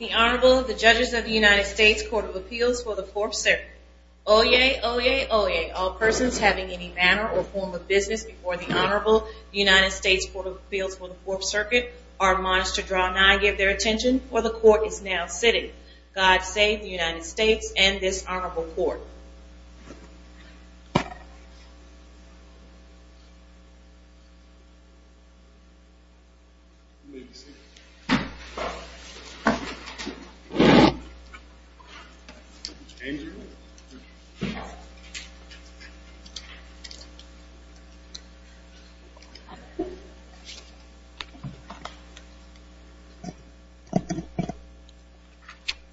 The Honorable, the Judges of the United States Court of Appeals for the Fourth Circuit. Oyez, oyez, oyez, all persons having any manner or form of business before the Honorable United States Court of Appeals for the Fourth Circuit are admonished to draw nigh, give their attention, for the court is now sitting. God save the United States and this Honorable Court.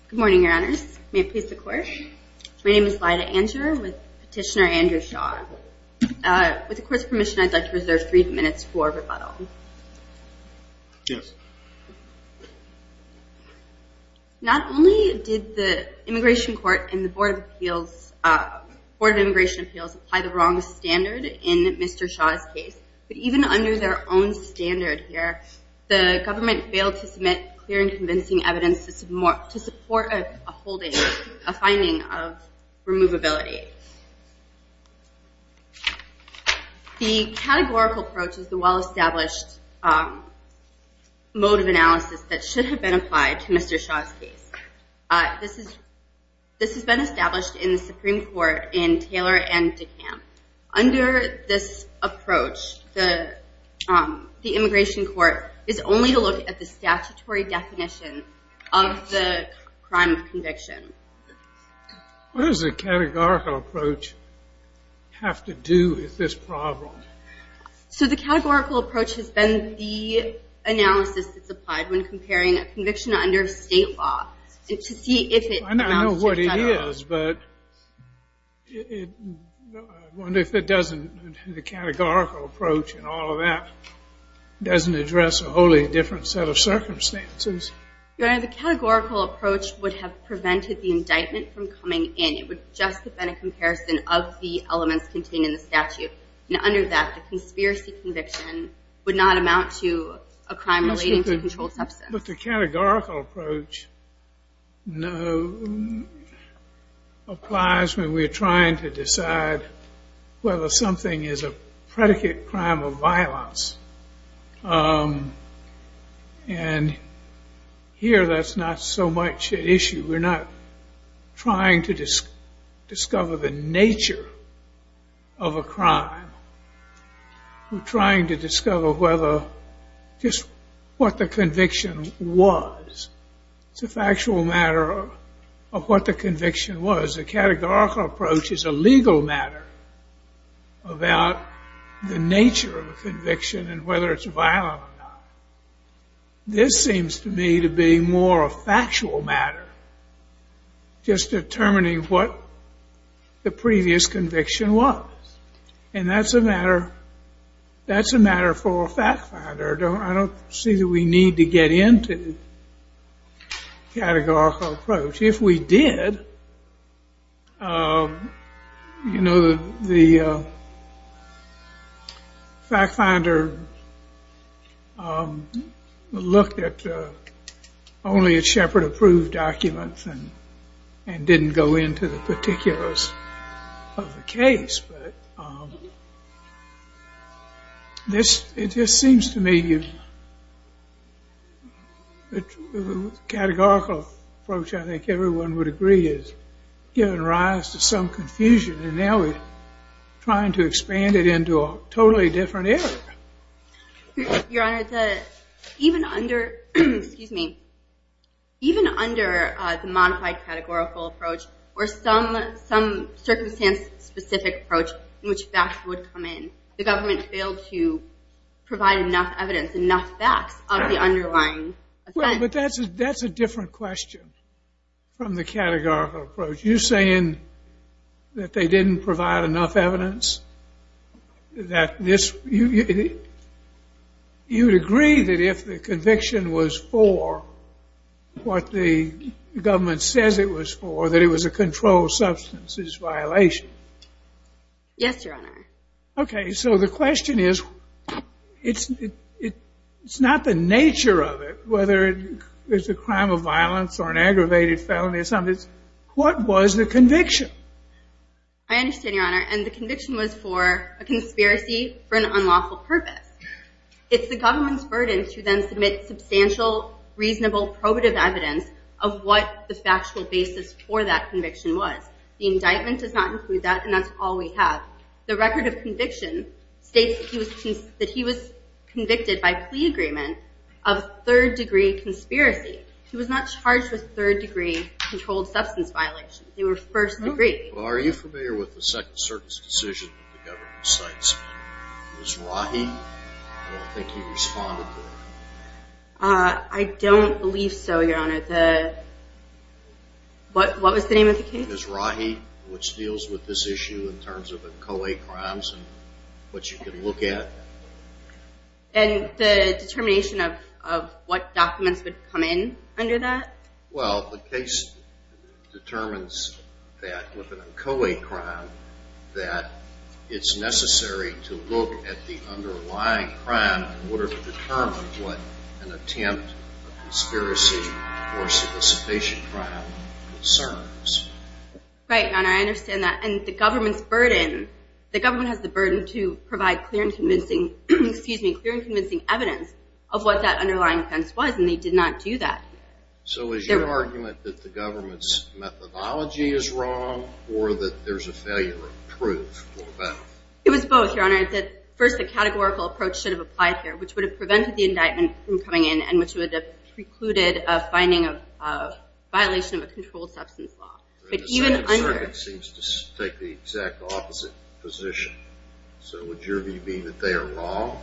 Good morning, Your Honors. May it please the Court. My name is Lyda Angerer with Petitioner Andrew Shaw. With the Court's permission, I'd like to reserve three minutes for rebuttal. Yes. Not only did the Immigration Court and the Board of Appeals, Board of Immigration Appeals, apply the wrong standard in Mr. Shaw's case, but even under their own standard here, the government failed to submit clear and convincing evidence to support a holding, a finding of removability. The categorical approach is the well-established mode of analysis that should have been applied to Mr. Shaw's case. This has been established in the Supreme Court in Taylor and DeKalb. Under this approach, the Immigration Court is only to look at the statutory definition of the crime of conviction. What does the categorical approach have to do with this problem? So the categorical approach has been the analysis that's applied when comparing a conviction under state law to see if it amounts to federal. I know what it is, but I wonder if it doesn't, the categorical approach and all of that, doesn't address a wholly different set of The categorical approach would have prevented the indictment from coming in. It would just have been a comparison of the elements contained in the statute. And under that, the conspiracy conviction would not amount to a crime relating to controlled substance. But the categorical approach applies when we're trying to decide whether something is a predicate crime of violence. And here, that's not so much an issue. We're not trying to discover the nature of a crime. We're trying to discover whether just what the conviction was. It's a factual matter of what the conviction was. The categorical approach is a legal matter about the nature of a conviction and whether it's violent or not. This seems to me to be more a factual matter, just determining what the previous conviction was. And that's a matter that's a matter for a fact finder. I don't see that we need to get into categorical approach. If we did, you know, the fact finder looked at only at Shepard approved documents and didn't go into the particulars of the case. It just seems to me that the categorical approach, I think everyone would agree, is giving rise to some confusion. And now we're trying to expand it into a totally different area. Your Honor, even under the modified categorical approach or some circumstance-specific approach in which facts would come in, the government failed to provide enough evidence, enough facts of the underlying offense. But that's a different question from the categorical approach. You're saying that they didn't provide enough evidence? You'd agree that if the conviction was for what the government says it was for, it was a controlled substances violation? Yes, Your Honor. Okay. So the question is, it's not the nature of it, whether it's a crime of violence or an aggravated felony or something. What was the conviction? I understand, Your Honor. And the conviction was for a conspiracy for an unlawful purpose. It's the government's burden to then submit substantial, reasonable, probative evidence of what the factual basis for that conviction was. The indictment does not include that, and that's all we have. The record of conviction states that he was convicted by plea agreement of third-degree conspiracy. He was not charged with third-degree controlled substance violations. They were first-degree. Well, are you familiar with the Second Circuit's decision that the government cites Ms. Rahi? I don't think he responded to it. I don't believe so, Your Honor. What was the name of the case? Ms. Rahi, which deals with this issue in terms of inchoate crimes and what you can look at. And the determination of what documents would come in under that? Well, the case determines that with an inchoate crime that it's necessary to look at the underlying crime in order to determine what an attempt of conspiracy or solicitation crime concerns. Right, Your Honor. I understand that. And the government's burden, the government has the burden to provide clear and convincing, excuse me, clear and convincing evidence of what that underlying offense was, and they did not do that. So is your argument that the government's methodology is wrong or that there's a failure of proof for that? It was both, Your Honor. First, a categorical approach should have applied here, which would have prevented the indictment from coming in and which would have precluded a finding of violation of a controlled substance law. But even under... The Second Circuit seems to take the exact opposite position. So would your view be that they are wrong?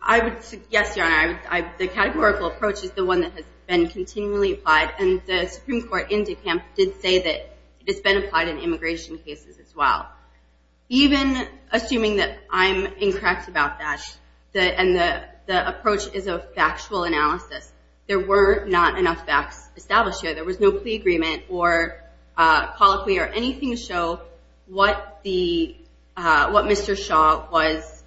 I would suggest, Your Honor, the categorical approach is the one that has been continually applied, and the Supreme Court in DeKalb did say that it's been applied in immigration cases as well. Even assuming that I'm incorrect about that, and the approach is a factual analysis, there were not enough facts established here. There was no plea agreement or colloquy or anything to show what Mr. Shaw was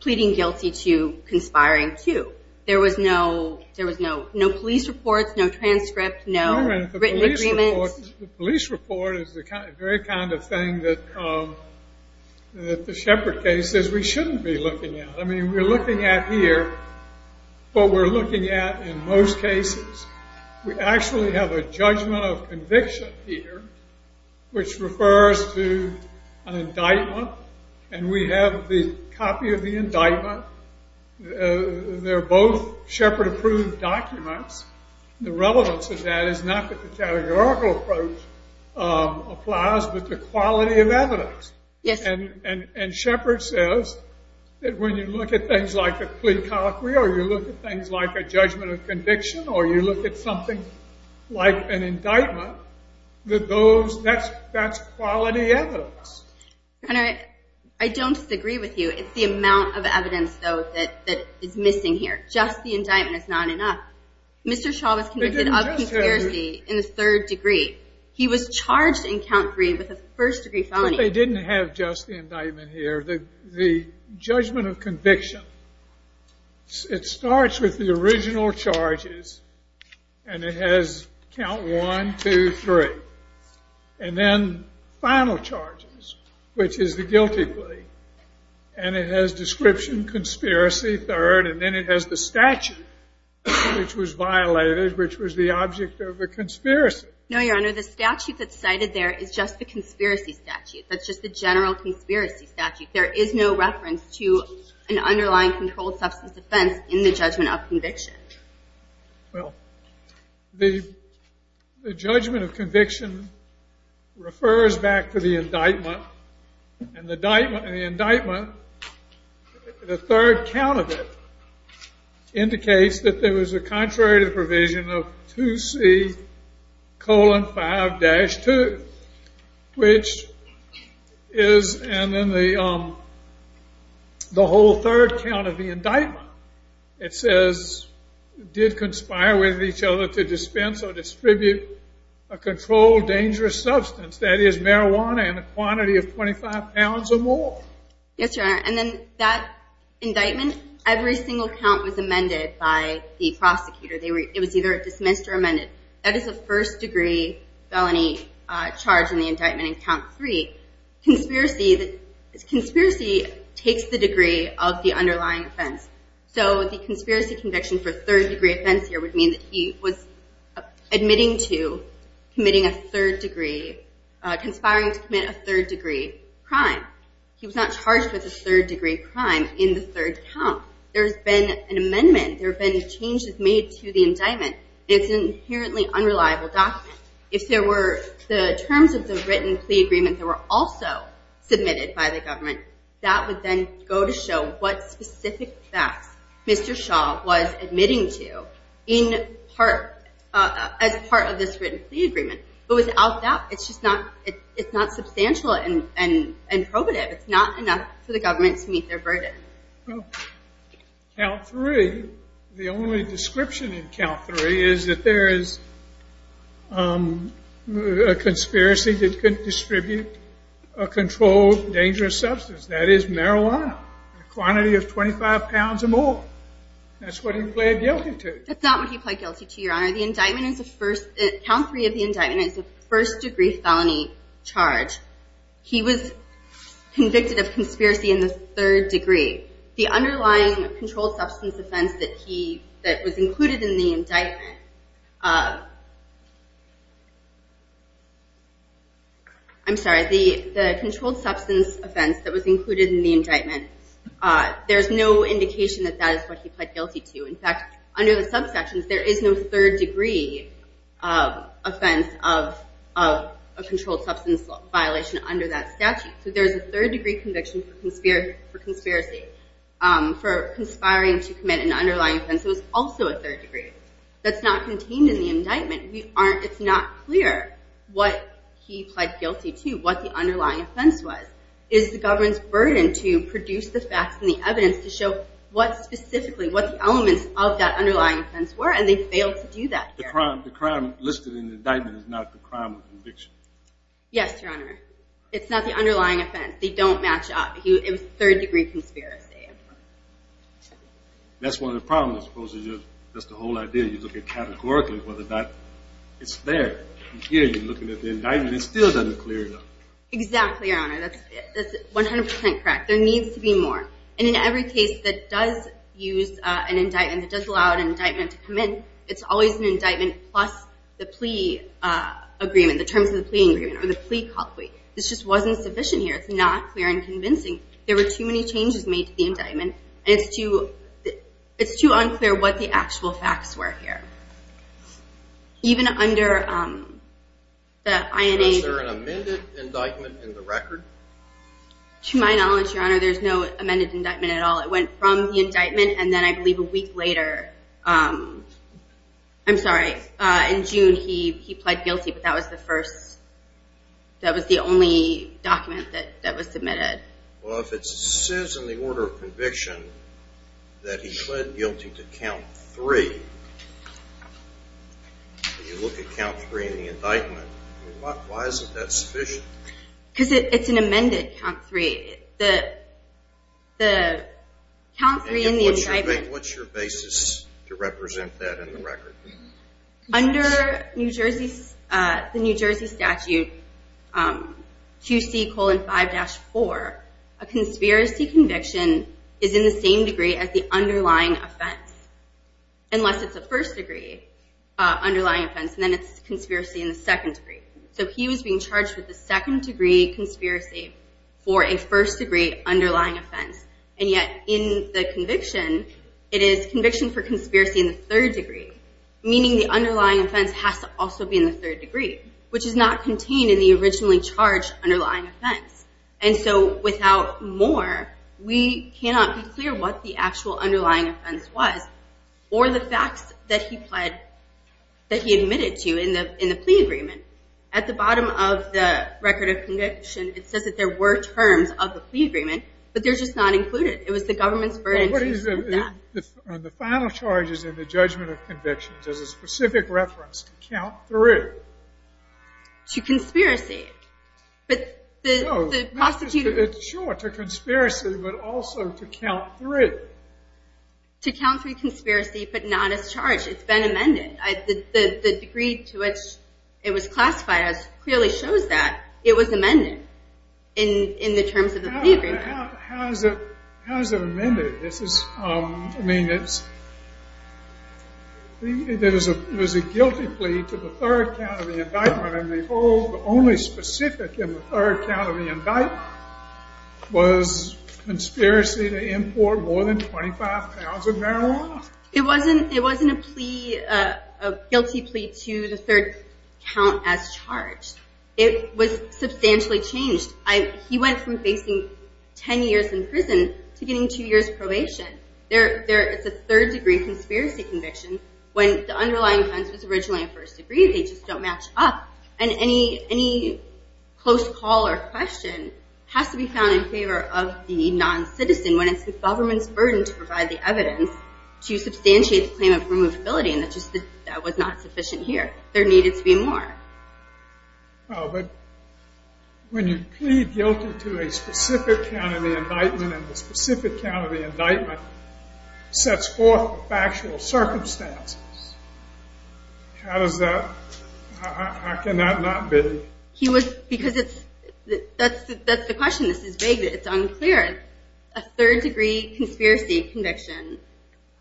pleading guilty to conspiring to. There was no police report, no transcript, no written agreement. The police report is the very kind of thing that the Shepard case says we shouldn't be looking at. I mean, we're looking at here what we're looking at in most cases. We actually have a judgment of and we have the copy of the indictment. They're both Shepard-approved documents. The relevance of that is not that the categorical approach applies, but the quality of evidence. And Shepard says that when you look at things like a plea colloquy or you look at things like a judgment of conviction or you look at something like an indictment, that's quality evidence. Hunter, I don't disagree with you. It's the amount of evidence, though, that is missing here. Just the indictment is not enough. Mr. Shaw was convicted of conspiracy in the third degree. He was charged in count three with a first degree felony. They didn't have just the indictment here. The judgment of conviction, it starts with the original charges and it has count one, two, three. And then final charges, which is the guilty plea. And it has description, conspiracy, third, and then it has the statute, which was violated, which was the object of a conspiracy. No, Your Honor, the statute that's cited there is just the conspiracy statute. That's just the general conspiracy statute. There is no reference to an underlying controlled substance offense in the judgment of conviction. Well, the judgment of conviction refers back to the indictment. And the indictment, the third count of it indicates that there was a contrary to the provision of 2C colon 5 dash 2, which is, and then the whole third count of the indictment, it says, did conspire with each other to dispense or distribute a controlled dangerous substance. That is marijuana in a quantity of 25 pounds or more. Yes, Your Honor. And then that indictment, every single count was amended by the prosecutor. It was either dismissed or amended. That is a first degree felony charge in the indictment in 3. Conspiracy takes the degree of the underlying offense. So the conspiracy conviction for third degree offense here would mean that he was admitting to committing a third degree, conspiring to commit a third degree crime. He was not charged with a third degree crime in the third count. There's been an amendment. There have been changes made to the indictment. It's an inherently unreliable document. If there were the terms of the written plea agreement that were also submitted by the government, that would then go to show what specific thefts Mr. Shaw was admitting to in part, as part of this written plea agreement. But without that, it's just not, it's not substantial and probative. It's not enough for the government to meet their burden. Well, count three, the only description in count three is that there is a conspiracy that could distribute a controlled dangerous substance. That is marijuana, a quantity of 25 pounds or more. That's what he pled guilty to. That's not what he pled guilty to, Your Honor. The indictment is the first, count three of the indictment is the first degree felony charge. He was convicted of conspiracy in the third degree. The underlying controlled substance offense that he, that was included in the indictment, I'm sorry, the, the controlled substance offense that was included in the indictment, there's no indication that that is what he pled guilty to. In fact, under the subsections, there is no third degree offense of a controlled substance violation under that statute. So there's a third degree conviction for conspiracy, for conspiring to commit an underlying offense. It was also a third degree. That's not contained in the indictment. We aren't, it's not clear what he pled guilty to, what the underlying offense was. Is the government's burden to produce the facts and the evidence to show what specifically, what the elements of that underlying offense were, and they failed to do that. The crime, the crime listed in the indictment is not the crime of conviction. Yes, Your Honor. It's not the underlying offense. They don't match up. It was third degree conspiracy. That's one of the problems. Supposedly, that's the whole idea. You look at categorically, whether or not it's there. Here, you're looking at the indictment. It still doesn't clear it up. Exactly, Your Honor. That's, that's 100% correct. There needs to be more. And in every case that does use an indictment, that does allow an indictment to come in, it's always an indictment plus the plea agreement, the terms of the plea agreement, or the plea call plea. This just wasn't sufficient here. It's not clear and convincing. There were too many changes made to the indictment, and it's too, it's too unclear what the actual facts were here. Even under the INA. Was there an amended indictment in the record? To my knowledge, Your Honor, there's no amended indictment at all. It went from the indictment, and then I believe a week later, I'm sorry, in June, he, he pled guilty, but that was the first, that was the only document that, that was submitted. Well, if it says in the order of conviction that he pled guilty to count three, if you look at count three in the indictment, why, why is it that sufficient? Because it, it's an amended count three. The, the count three in the indictment. And what's your, what's your basis to represent that in the record? Under New Jersey, the New Jersey statute, QC colon 5-4, a conspiracy conviction is in the same degree as the underlying offense. Unless it's a first degree underlying offense, and then it's conspiracy in the second degree. So he was being charged with the second degree conspiracy for a first degree underlying offense. And yet in the conviction, it is conviction for conspiracy in the third degree. Meaning the underlying offense has to also be in the third degree, which is not contained in the originally charged underlying offense. And so without more, we cannot be clear what the actual underlying offense was or the facts that he pled, that he admitted to in the, in the plea agreement. At the bottom of the record of conviction, it says that there were terms of the plea agreement, but they're just not included. It was the government's burden to include that. The final charges in the judgment of conviction does a specific reference to count three. To conspiracy. But the, the prosecutor. Sure, to conspiracy, but also to count three. To count three conspiracy, but not as charged. It's been amended. The degree to which it was classified as clearly shows that it was amended in the terms of the plea agreement. How is it, how is it amended? This is, I mean, it's, there was a guilty plea to the third count of the indictment, and the only specific in the third count of the indictment was conspiracy to It wasn't, it wasn't a plea, a guilty plea to the third count as charged. It was substantially changed. I, he went from facing 10 years in prison to getting two years probation. There, there is a third degree conspiracy conviction when the underlying offense was originally in first degree. They just don't match up. And any, any close call or question has to be in favor of the non-citizen when it's the government's burden to provide the evidence to substantiate the claim of removability, and that just, that was not sufficient here. There needed to be more. Oh, but when you plead guilty to a specific count of the indictment, and the specific count of the indictment sets forth factual circumstances, how does that, how can that not be? He was, because it's, that's, that's the question. This is vague. It's unclear. A third degree conspiracy conviction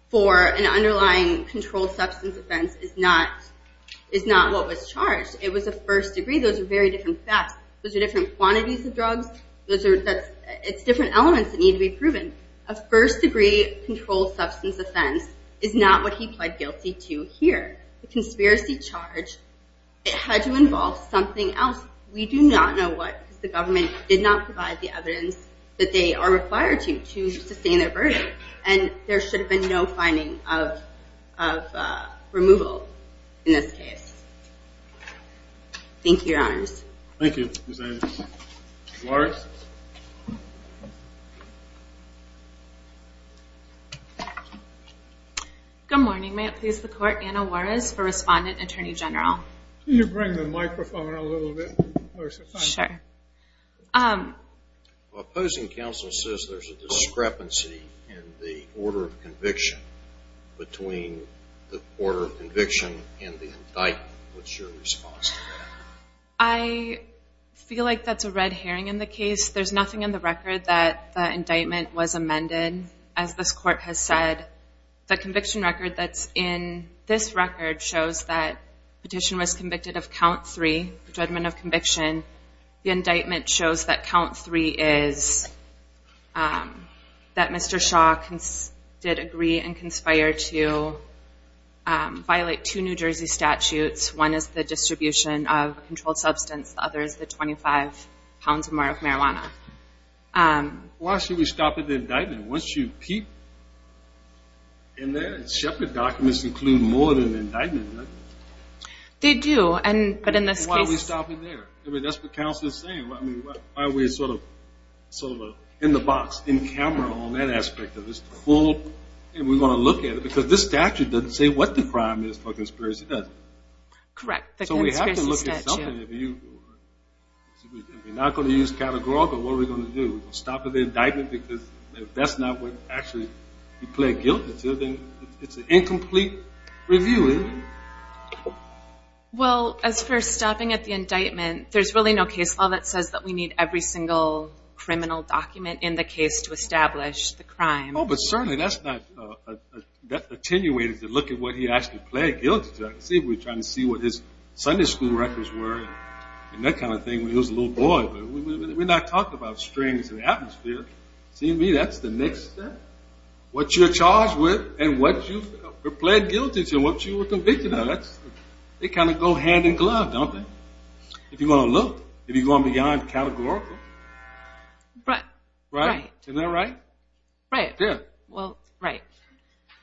for an underlying controlled substance offense is not, is not what was charged. It was a first degree. Those are very different thefts. Those are different quantities of drugs. Those are, that's, it's different elements that need to be proven. A first degree controlled substance offense is not what he pled guilty to here. The conspiracy charge, it had to involve something else. We do not know what, because the government did not provide the evidence that they are required to, to sustain their burden, and there should have been no finding of, of removal in this case. Thank you, Your Honors. Thank you, Ms. Adams. Ms. Warrick. Good morning. May it please the Court, Anna Juarez for Respondent and Attorney General. Can you bring the microphone a little bit closer? Sure. Opposing counsel says there's a discrepancy in the order of conviction between the order of conviction and the indictment. What's your response to that? I feel like that's a red herring in the case. There's nothing in the record that the indictment was amended. As this Court has said, the conviction record that's in this record shows that petition was convicted of count three, judgment of conviction. The indictment shows that count three is, that Mr. Shaw did agree and conspire to violate two New Jersey statutes. One is the substance, the other is the 25 pounds or more of marijuana. Why should we stop at the indictment? Once you keep in there, and Shepard documents include more than an indictment, doesn't it? They do, and, but in this case... Then why are we stopping there? I mean, that's what counsel is saying. I mean, why are we sort of, sort of in the box, in camera on that aspect of this, the full, and we want to look at it, because this statute doesn't say what the crime is for conspiracy, does it? Correct. So we have to look at something. We're not going to use categorical. What are we going to do? We're going to stop at the indictment, because if that's not what actually he pled guilty to, then it's an incomplete review, isn't it? Well, as for stopping at the indictment, there's really no case law that says that we need every single criminal document in the case to establish the crime. Oh, but certainly that's not, that attenuated to look at what he actually pled guilty to. See, we're trying to see what his Sunday school records were, and that kind of thing, when he was a little boy, but we're not talking about strings in the atmosphere. See, to me, that's the next step. What you're charged with, and what you've pled guilty to, and what you were convicted of, that's, they kind of go hand in glove, don't they? If you're going to look, if you're going beyond categorical... Right. Right? Isn't that right? Right. Yeah. Well, right.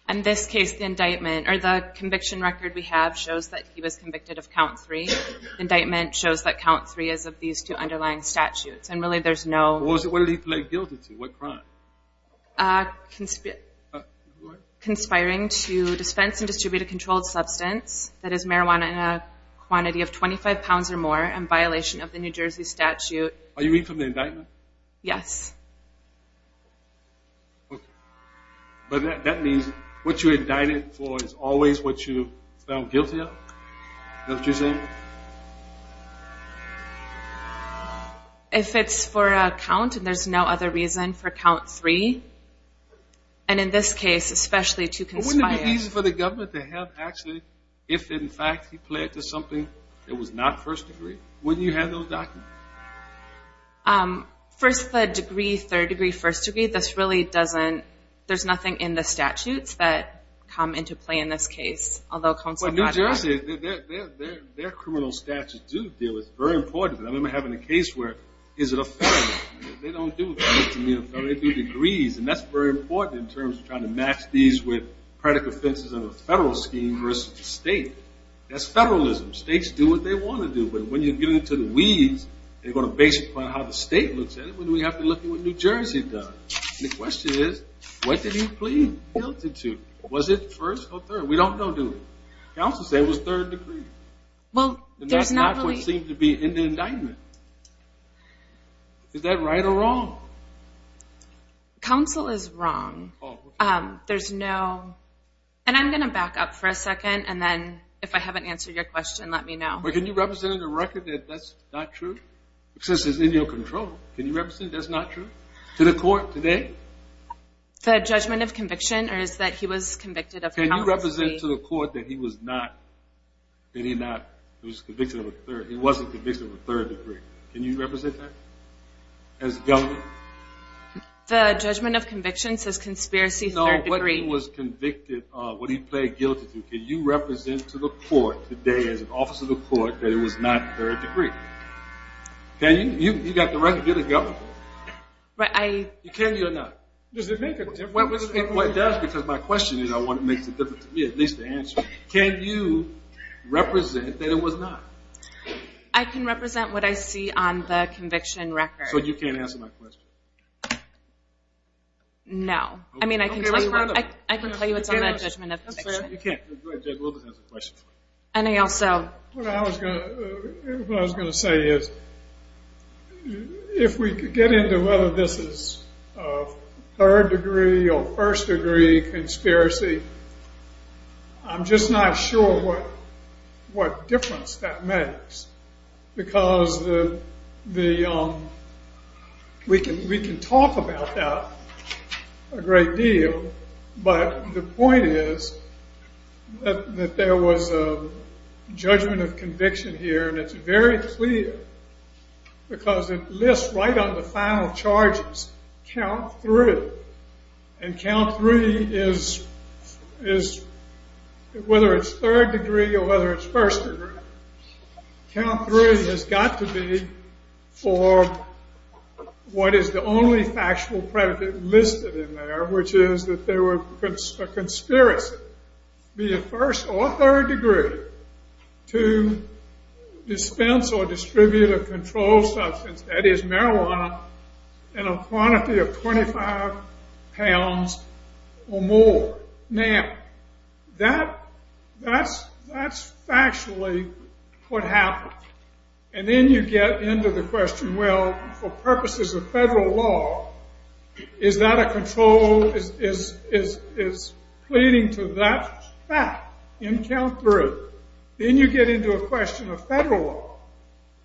In this case, the indictment, or the conviction record we have shows that he was convicted of count three. The indictment shows that count three is of these two underlying statutes, and really there's no... Well, what did he pled guilty to? What crime? Conspiring to dispense and distribute a controlled substance, that is marijuana, in a quantity of 25 pounds or more, in violation of the New Jersey statute. Are you reading from the indictment? Yes. Okay. But that means what you're indicted for is always what you found guilty of? Is that what you're saying? If it's for a count, and there's no other reason for count three, and in this case, especially to conspire... Wouldn't it be easy for the government to have, actually, if, in fact, he pled to something that was not first degree? Wouldn't you have those documents? First, the degree, third degree, first degree, this really doesn't... There's nothing in the statutes that come into play in this case, although... Well, New Jersey, their criminal statutes do deal with... Very important. I remember having a case where... Is it a felony? They don't do that. They do degrees, and that's very important in terms of trying to match these with predicate offenses in the federal scheme versus the state. That's federalism. States do what they want to do, but when you get into the weeds, they're going to basically how the state looks at it, but we have to look at what New Jersey does. The question is, what did he plead guilty to? Was it first or third? We don't know, do we? Counsel said it was third degree. Well, there's not really... And that's not what seemed to be in the indictment. Is that right or wrong? Counsel is wrong. There's no... And I'm gonna back up for a second, and then if I haven't answered your question, let me know. Can you represent in the record that that's not true? Since it's in your control, can you represent that's not true to the court today? The judgment of conviction, or is that he was convicted of... Can you represent to the court that he was not... That he was convicted of a third... He wasn't convicted of a third degree. Can you represent that as a government? The judgment of conviction says conspiracy, third degree. No, what he was convicted of, what he pled guilty to, can you represent to the court today, as an officer of the court, that it was not third degree? Can you? You got the right to be the government. You can, you're not. Does it make a difference? It does, because my question is, I want it to make a difference to me, at least the answer. Can you represent that it was not? I can represent what I see on the conviction record. So you can't answer my question? No. I mean, I can tell you it's on the judgment of conviction. You can't. Judge Wilber has a question for you. What I was going to say is, if we get into whether this is a third degree or first degree conspiracy, I'm just not sure what difference that makes. Because we can talk about that a great deal. But the point is that there was a judgment of conviction here. And it's very clear, because it lists right on the final charges, count three. And count three is, whether it's third degree or whether it's first degree, count three has got to be for what is the only factual predicate listed in there, which is that there was a conspiracy, be it first or third degree, to dispense or distribute a controlled substance, that is marijuana, in a quantity of 25 pounds or more. Now, that's factually what happened. And then you get into the question, well, for purposes of federal law, is that a controlled, is pleading to that fact in count three. Then you get into a question of federal law,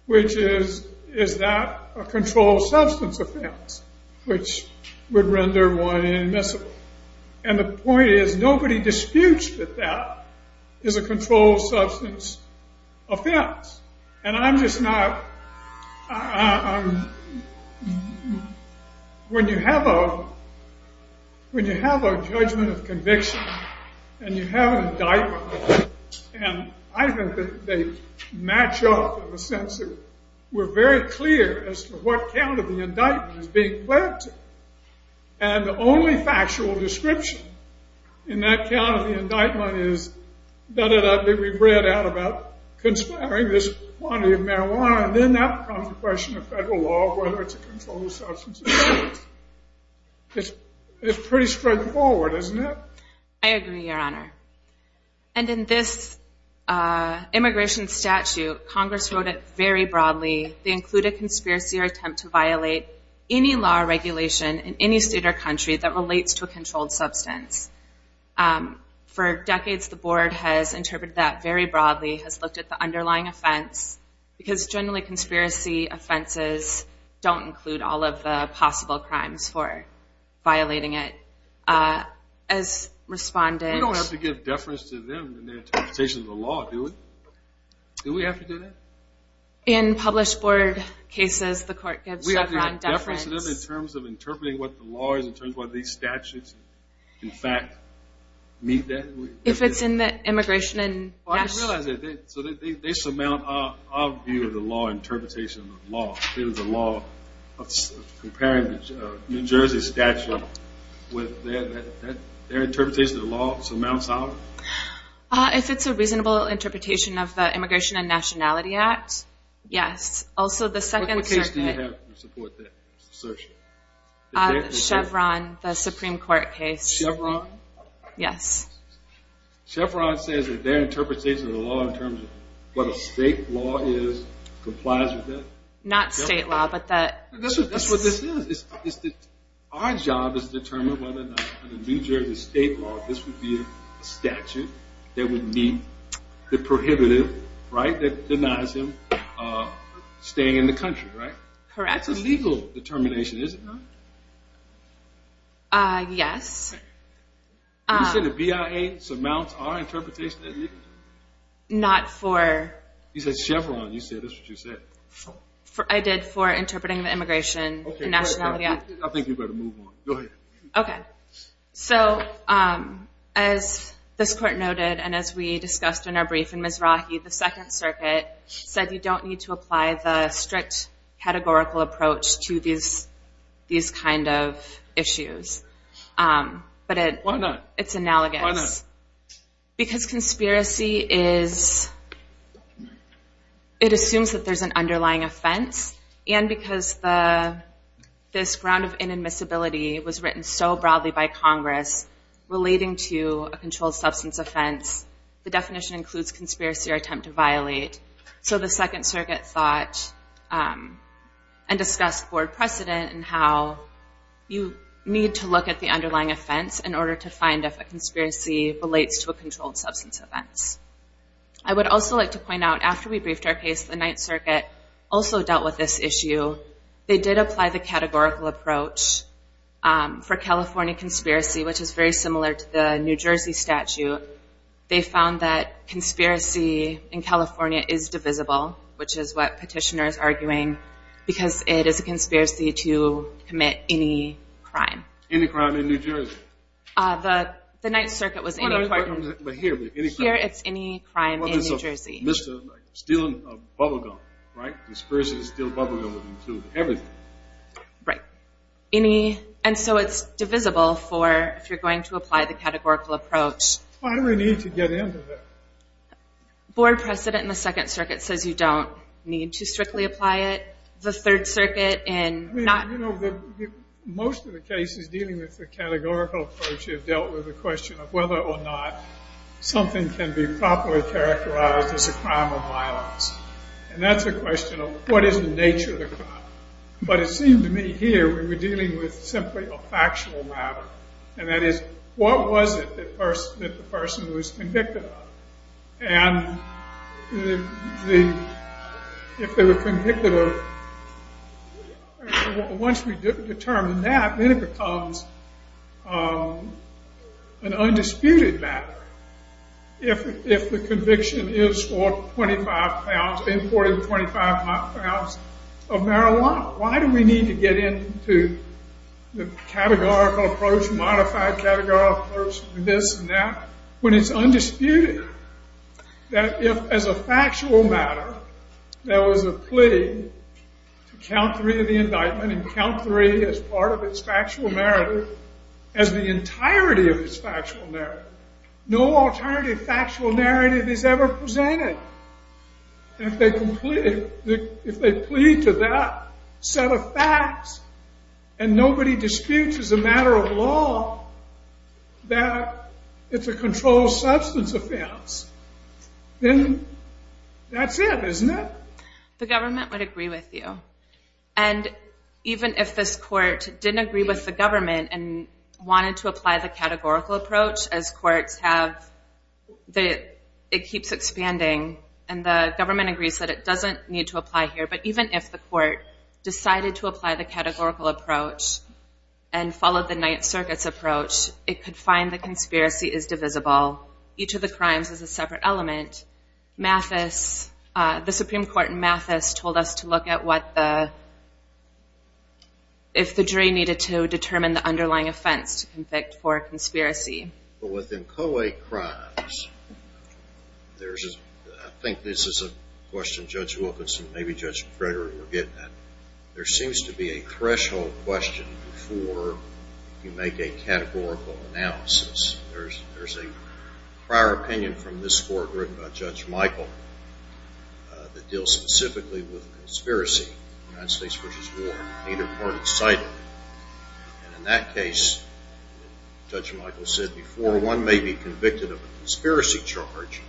which is, is that a controlled substance offense, which would render one inadmissible. And the point is, nobody disputes that that is a controlled substance offense. And I'm just not, when you have a judgment of conviction, and you have an indictment, and I think that they match up in the sense that we're very clear as to what count of the indictment is being pledged. And the only factual description in that count of the indictment is, da-da-da, we've read out about conspiring this quantity of marijuana. And then that becomes a question of federal law, whether it's a controlled substance offense. It's pretty straightforward, isn't it? I agree, Your Honor. And in this immigration statute, Congress wrote it very broadly. They include a conspiracy or attempt to violate any law or regulation in any state or country that relates to a controlled substance. And for decades, the board has interpreted that very broadly, has looked at the underlying offense, because generally conspiracy offenses don't include all of the possible crimes for violating it. As respondents- We don't have to give deference to them in their interpretation of the law, do we? Do we have to do that? In published board cases, the court gives deference- We have to give deference to them in terms of interpreting what the law is, in terms of whether these statutes, in fact, meet that- If it's in the immigration and- I didn't realize that. So they surmount our view of the law, interpretation of the law. It is the law. Comparing the New Jersey statute with their interpretation of the law surmounts ours? If it's a reasonable interpretation of the Immigration and Nationality Act, yes. Also, the Second Circuit- What case do you have to support that assertion? The Chevron, the Supreme Court case. Chevron? Yes. Chevron says that their interpretation of the law, in terms of what a state law is, complies with it? Not state law, but that- That's what this is. Our job is to determine whether or not, under New Jersey state law, this would be a statute that would meet the prohibitive, right? That denies him staying in the country, right? Correct. It's a legal determination, is it not? Yes. You said the BIA surmounts our interpretation of the law? Not for- You said Chevron. You said, that's what you said. I did, for interpreting the Immigration and Nationality Act. I think you better move on. Go ahead. Okay. So, as this court noted, and as we discussed in our brief, and Ms. Rocky, the Second Circuit said you don't need to apply the strict categorical approach to these kind of issues. But it- Why not? It's analogous. Why not? Because conspiracy is- it assumes that there's an underlying offense. And because this ground of inadmissibility was written so broadly by Congress, relating to a controlled substance offense, the definition includes conspiracy or attempt to violate. So the Second Circuit thought and discussed board precedent and how you need to look at the underlying offense in order to find if a conspiracy relates to a controlled substance offense. I would also like to point out, after we briefed our case, the Ninth Circuit also dealt with this issue. They did apply the categorical approach for California conspiracy, which is very similar to the New Jersey statute. They found that conspiracy in California is divisible, which is what Petitioner is arguing, because it is a conspiracy to commit any crime. Any crime in New Jersey? The Ninth Circuit was- Well, here, any crime. Here, it's any crime in New Jersey. Mr. Stealing a bubblegum, right? Conspiracy to steal a bubblegum would include everything. Right. Any, and so it's divisible for, if you're going to apply the categorical approach. Why do we need to get into that? Board precedent in the Second Circuit says you don't need to strictly apply it. The Third Circuit and not- I mean, you know, most of the cases dealing with the categorical approach have dealt with the question of whether or not something can be properly characterized as a crime of violence. And that's a question of what is the nature of the crime? But it seemed to me here, we were dealing with simply a factual matter. And that is, what was it that the person was convicted of? And if they were convicted of- once we determine that, then it becomes an undisputed matter. If the conviction is for 25 pounds, importing 25 pounds of marijuana, why do we need to get into the categorical approach, modified categorical approach, this and that, when it's undisputed? That if, as a factual matter, there was a plea to count three of the indictment and count three as part of its factual merit, as the entirety of its factual merit, no alternative factual narrative is ever presented. And if they plead to that set of facts and nobody disputes as a matter of law that it's a controlled substance offense, then that's it, isn't it? The government would agree with you. And even if this court didn't agree with the government and wanted to apply the categorical approach, as courts have, it keeps expanding. And the government agrees that it doesn't need to apply here. But even if the court decided to apply the categorical approach and followed the Ninth Circuit's approach, it could find the conspiracy is divisible. Each of the crimes is a separate element. Mathis, the Supreme Court in Mathis told us to look at what the- underlying offense to convict for a conspiracy. But within co-ed crimes, there's a- I think this is a question Judge Wilkinson, maybe Judge Frederick were getting at. There seems to be a threshold question before you make a categorical analysis. There's a prior opinion from this court written by Judge Michael that deals specifically with conspiracy in the United States versus war, neither part excited. And in that case, Judge Michael said, before one may be convicted of a conspiracy charge,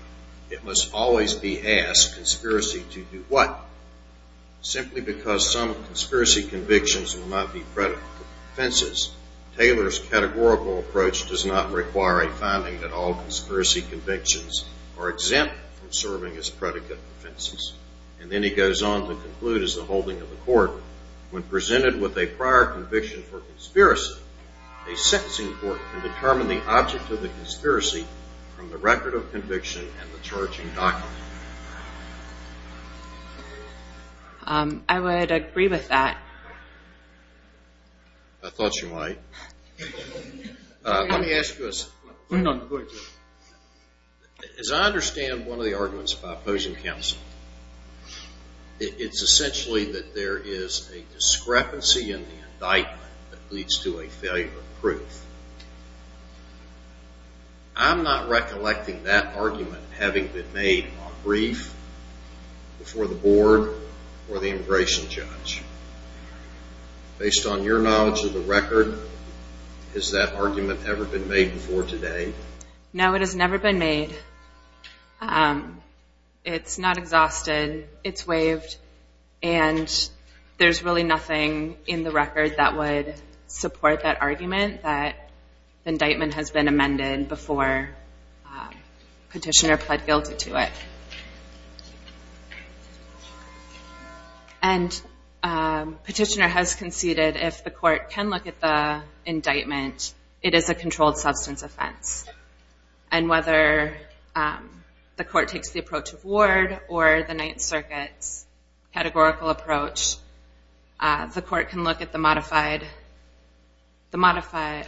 it must always be asked, conspiracy to do what? Simply because some conspiracy convictions will not be predicate offenses. Taylor's categorical approach does not require a finding that all conspiracy convictions are exempt from serving as predicate offenses. And then he goes on to conclude, as the holding of the court, when presented with a prior conviction for conspiracy, a sentencing court can determine the object of the conspiracy from the record of conviction and the charging document. I would agree with that. I thought you might. Let me ask you this. As I understand one of the arguments by opposing counsel, it's essentially that there is a discrepancy in the indictment that leads to a failure of proof. I'm not recollecting that argument having been made on brief, before the board, or the immigration judge. Based on your knowledge of the record, has that argument ever been made before today? No, it has never been made. It's not exhausted. It's waived. And there's really nothing in the record that would support that argument, that the indictment has been amended before petitioner pled guilty to it. And petitioner has conceded, if the court can look at the indictment, it is a controlled substance offense. And whether the court takes the approach of Ward, or the Ninth Circuit's categorical approach, the court can look at the modified,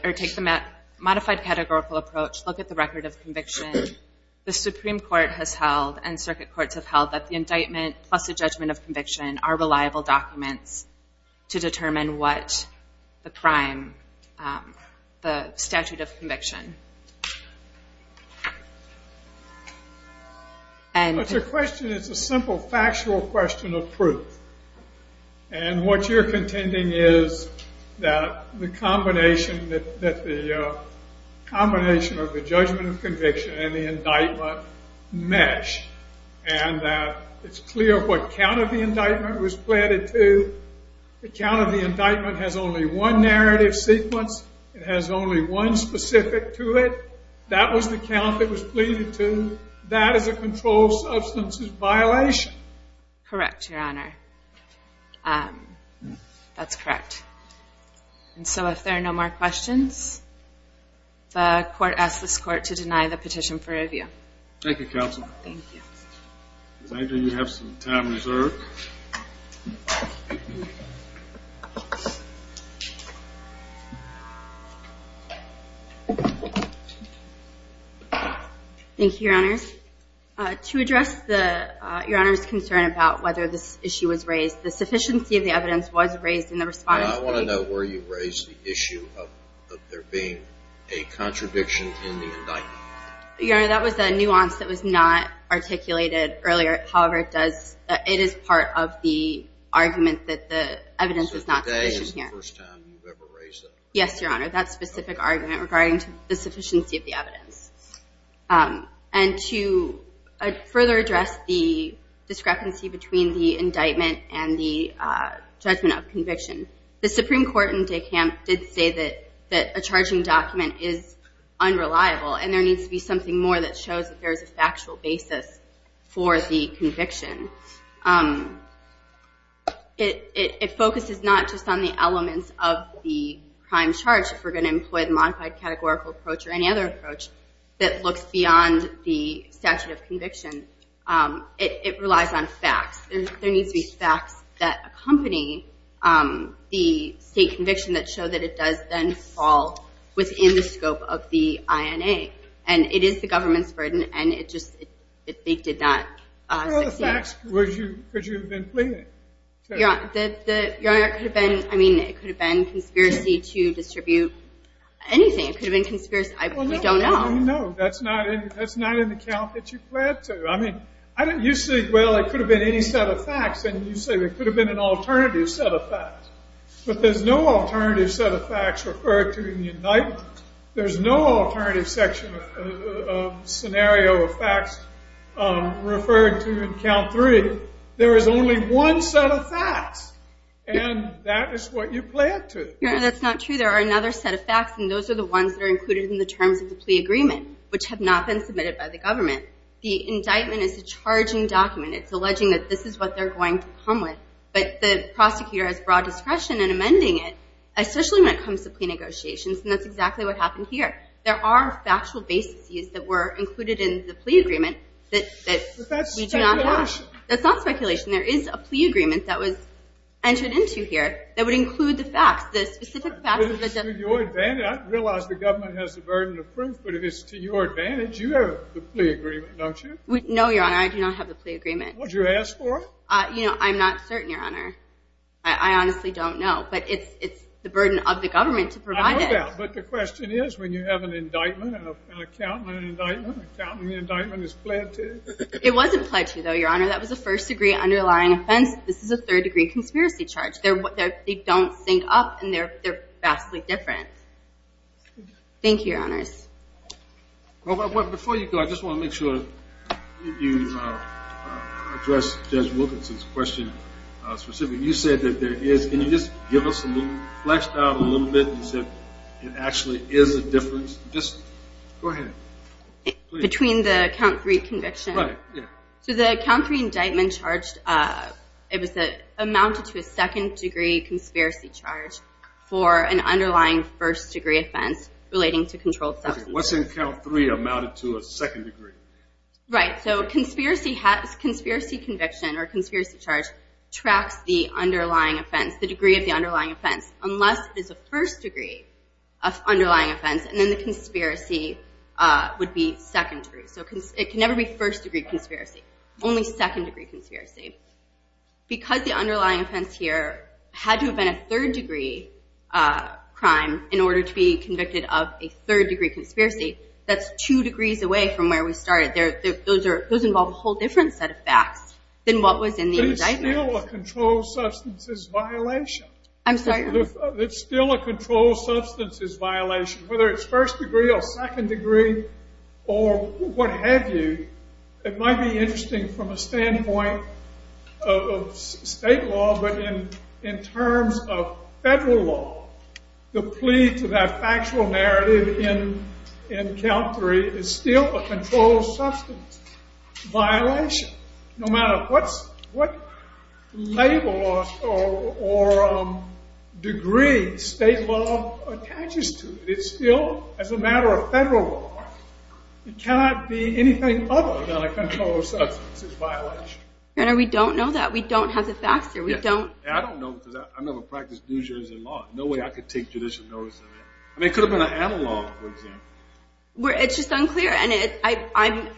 or take the modified categorical approach, look at the record of conviction. The Supreme Court has held, and circuit courts have held, that the indictment plus the judgment of conviction are reliable documents to determine what the crime, the statute of conviction. And... It's a question, it's a simple factual question of proof. And what you're contending is that the combination, that the combination of the judgment of conviction and the indictment mesh. And that it's clear what count of the indictment was pleaded to. The count of the indictment has only one narrative sequence. It has only one specific to it. That was the count that was pleaded to. That is a controlled substances violation. Correct, your honor. That's correct. And so if there are no more questions, the court asks this court to deny the petition for review. Thank you, counsel. Thank you. Angel, you have some time reserved. Thank you, your honors. To address the, your honor's concern about whether this issue was raised, the sufficiency of the evidence was raised in the response. I want to know where you raised the issue of there being a contradiction in the indictment. Your honor, that was a nuance that was not articulated earlier. However, it does, it is part of the argument that the evidence is not sufficient here. So today is the first time you've ever raised that? Yes, your honor, that specific argument regarding the sufficiency of the evidence. And to further address the discrepancy between the indictment and the judgment of conviction, the Supreme Court in Dekamp did say that a charging document is something more that shows that there is a factual basis for the conviction. It focuses not just on the elements of the crime charge, if we're going to employ the modified categorical approach or any other approach that looks beyond the statute of conviction. It relies on facts. There needs to be facts that accompany the state conviction that show that it does then fall within the scope of the INA. And it is the government's burden. And it just did not succeed. The facts, could you have been pleading? Your honor, it could have been conspiracy to distribute anything. It could have been conspiracy. I don't know. No, that's not an account that you pled to. I mean, you say, well, it could have been any set of facts. And you say, it could have been an alternative set of facts. But there's no alternative set of facts referred to in the indictment. There's no alternative section of scenario of facts referred to in count three. There is only one set of facts. And that is what you pled to. Your honor, that's not true. There are another set of facts. And those are the ones that are included in the terms of the plea agreement, which have not been submitted by the government. The indictment is a charging document. It's alleging that this is what they're going to come with. But the prosecutor has broad discretion in amending it, especially when it comes to plea negotiations. And that's exactly what happened here. There are factual bases that were included in the plea agreement that we do not have. But that's speculation. That's not speculation. There is a plea agreement that was entered into here that would include the facts, the specific facts of the death. But it's to your advantage. I realize the government has the burden of proof. But if it's to your advantage, you have the plea agreement, don't you? No, your honor. I do not have the plea agreement. Well, did you ask for it? You know, I'm not certain, your honor. I honestly don't know. But it's the burden of the government to provide it. But the question is, when you have an indictment, an accountant indictment, an accountant indictment is pled to it. It wasn't pled to, though, your honor. That was a first degree underlying offense. This is a third degree conspiracy charge. They don't sync up. And they're vastly different. Thank you, your honors. Before you go, I just want to make sure you address Judge Wilkinson's question specifically. You said that there is. Can you just give us a little, fleshed out a little bit, as if it actually is a difference? Just go ahead. Between the count three conviction? Right, yeah. So the count three indictment charged, it was amounted to a second degree conspiracy charge for an underlying first degree offense relating to controlled substance. What's in count three amounted to a second degree? Right. So conspiracy conviction or conspiracy charge tracks the underlying offense. The degree of the underlying offense. Unless it is a first degree of underlying offense. And then the conspiracy would be secondary. So it can never be first degree conspiracy. Only second degree conspiracy. Because the underlying offense here had to have been a third degree crime in order to be convicted of a third degree conspiracy. That's two degrees away from where we started. Those involve a whole different set of facts than what was in the indictment. It's still a controlled substances violation. I'm sorry? It's still a controlled substances violation. Whether it's first degree or second degree or what have you. It might be interesting from a standpoint of state law. But in terms of federal law, the plea to that factual narrative in count three is still a controlled substance violation. No matter what label or degree state law attaches to it. It's still as a matter of federal law. It cannot be anything other than a controlled substances violation. Your Honor, we don't know that. We don't have the facts here. We don't. I don't know because I've never practiced New Jersey law. No way I could take judicial notice of that. I mean, it could have been an analog, for example. It's just unclear. And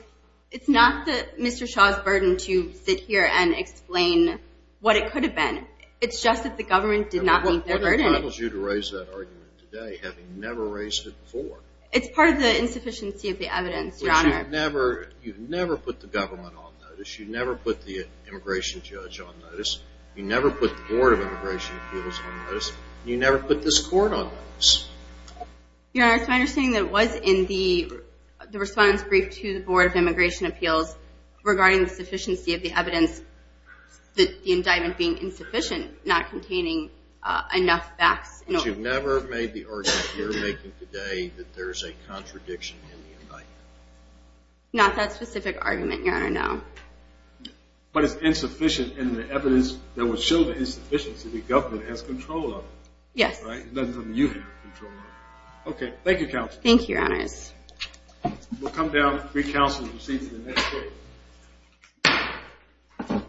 it's not Mr. Shaw's burden to sit here and explain what it could have been. It's just that the government did not meet their burden. What entitles you to raise that argument today, having never raised it before? It's part of the insufficiency of the evidence, Your Honor. You've never put the government on notice. You never put the immigration judge on notice. You never put the Board of Immigration Appeals on notice. You never put this court on notice. Your Honor, it's my understanding that it was in the respondent's brief to the Board of Immigration Appeals regarding the sufficiency of the evidence, that the indictment being insufficient, not containing enough facts. But you've never made the argument you're making today that there's a contradiction in the indictment. Not that specific argument, Your Honor, no. But it's insufficient in the evidence that would show the insufficiency the government has control of. Yes. That's something you have control of. Okay, thank you, Counsel. Thank you, Your Honors. We'll come down, recounsel, and see you for the next case.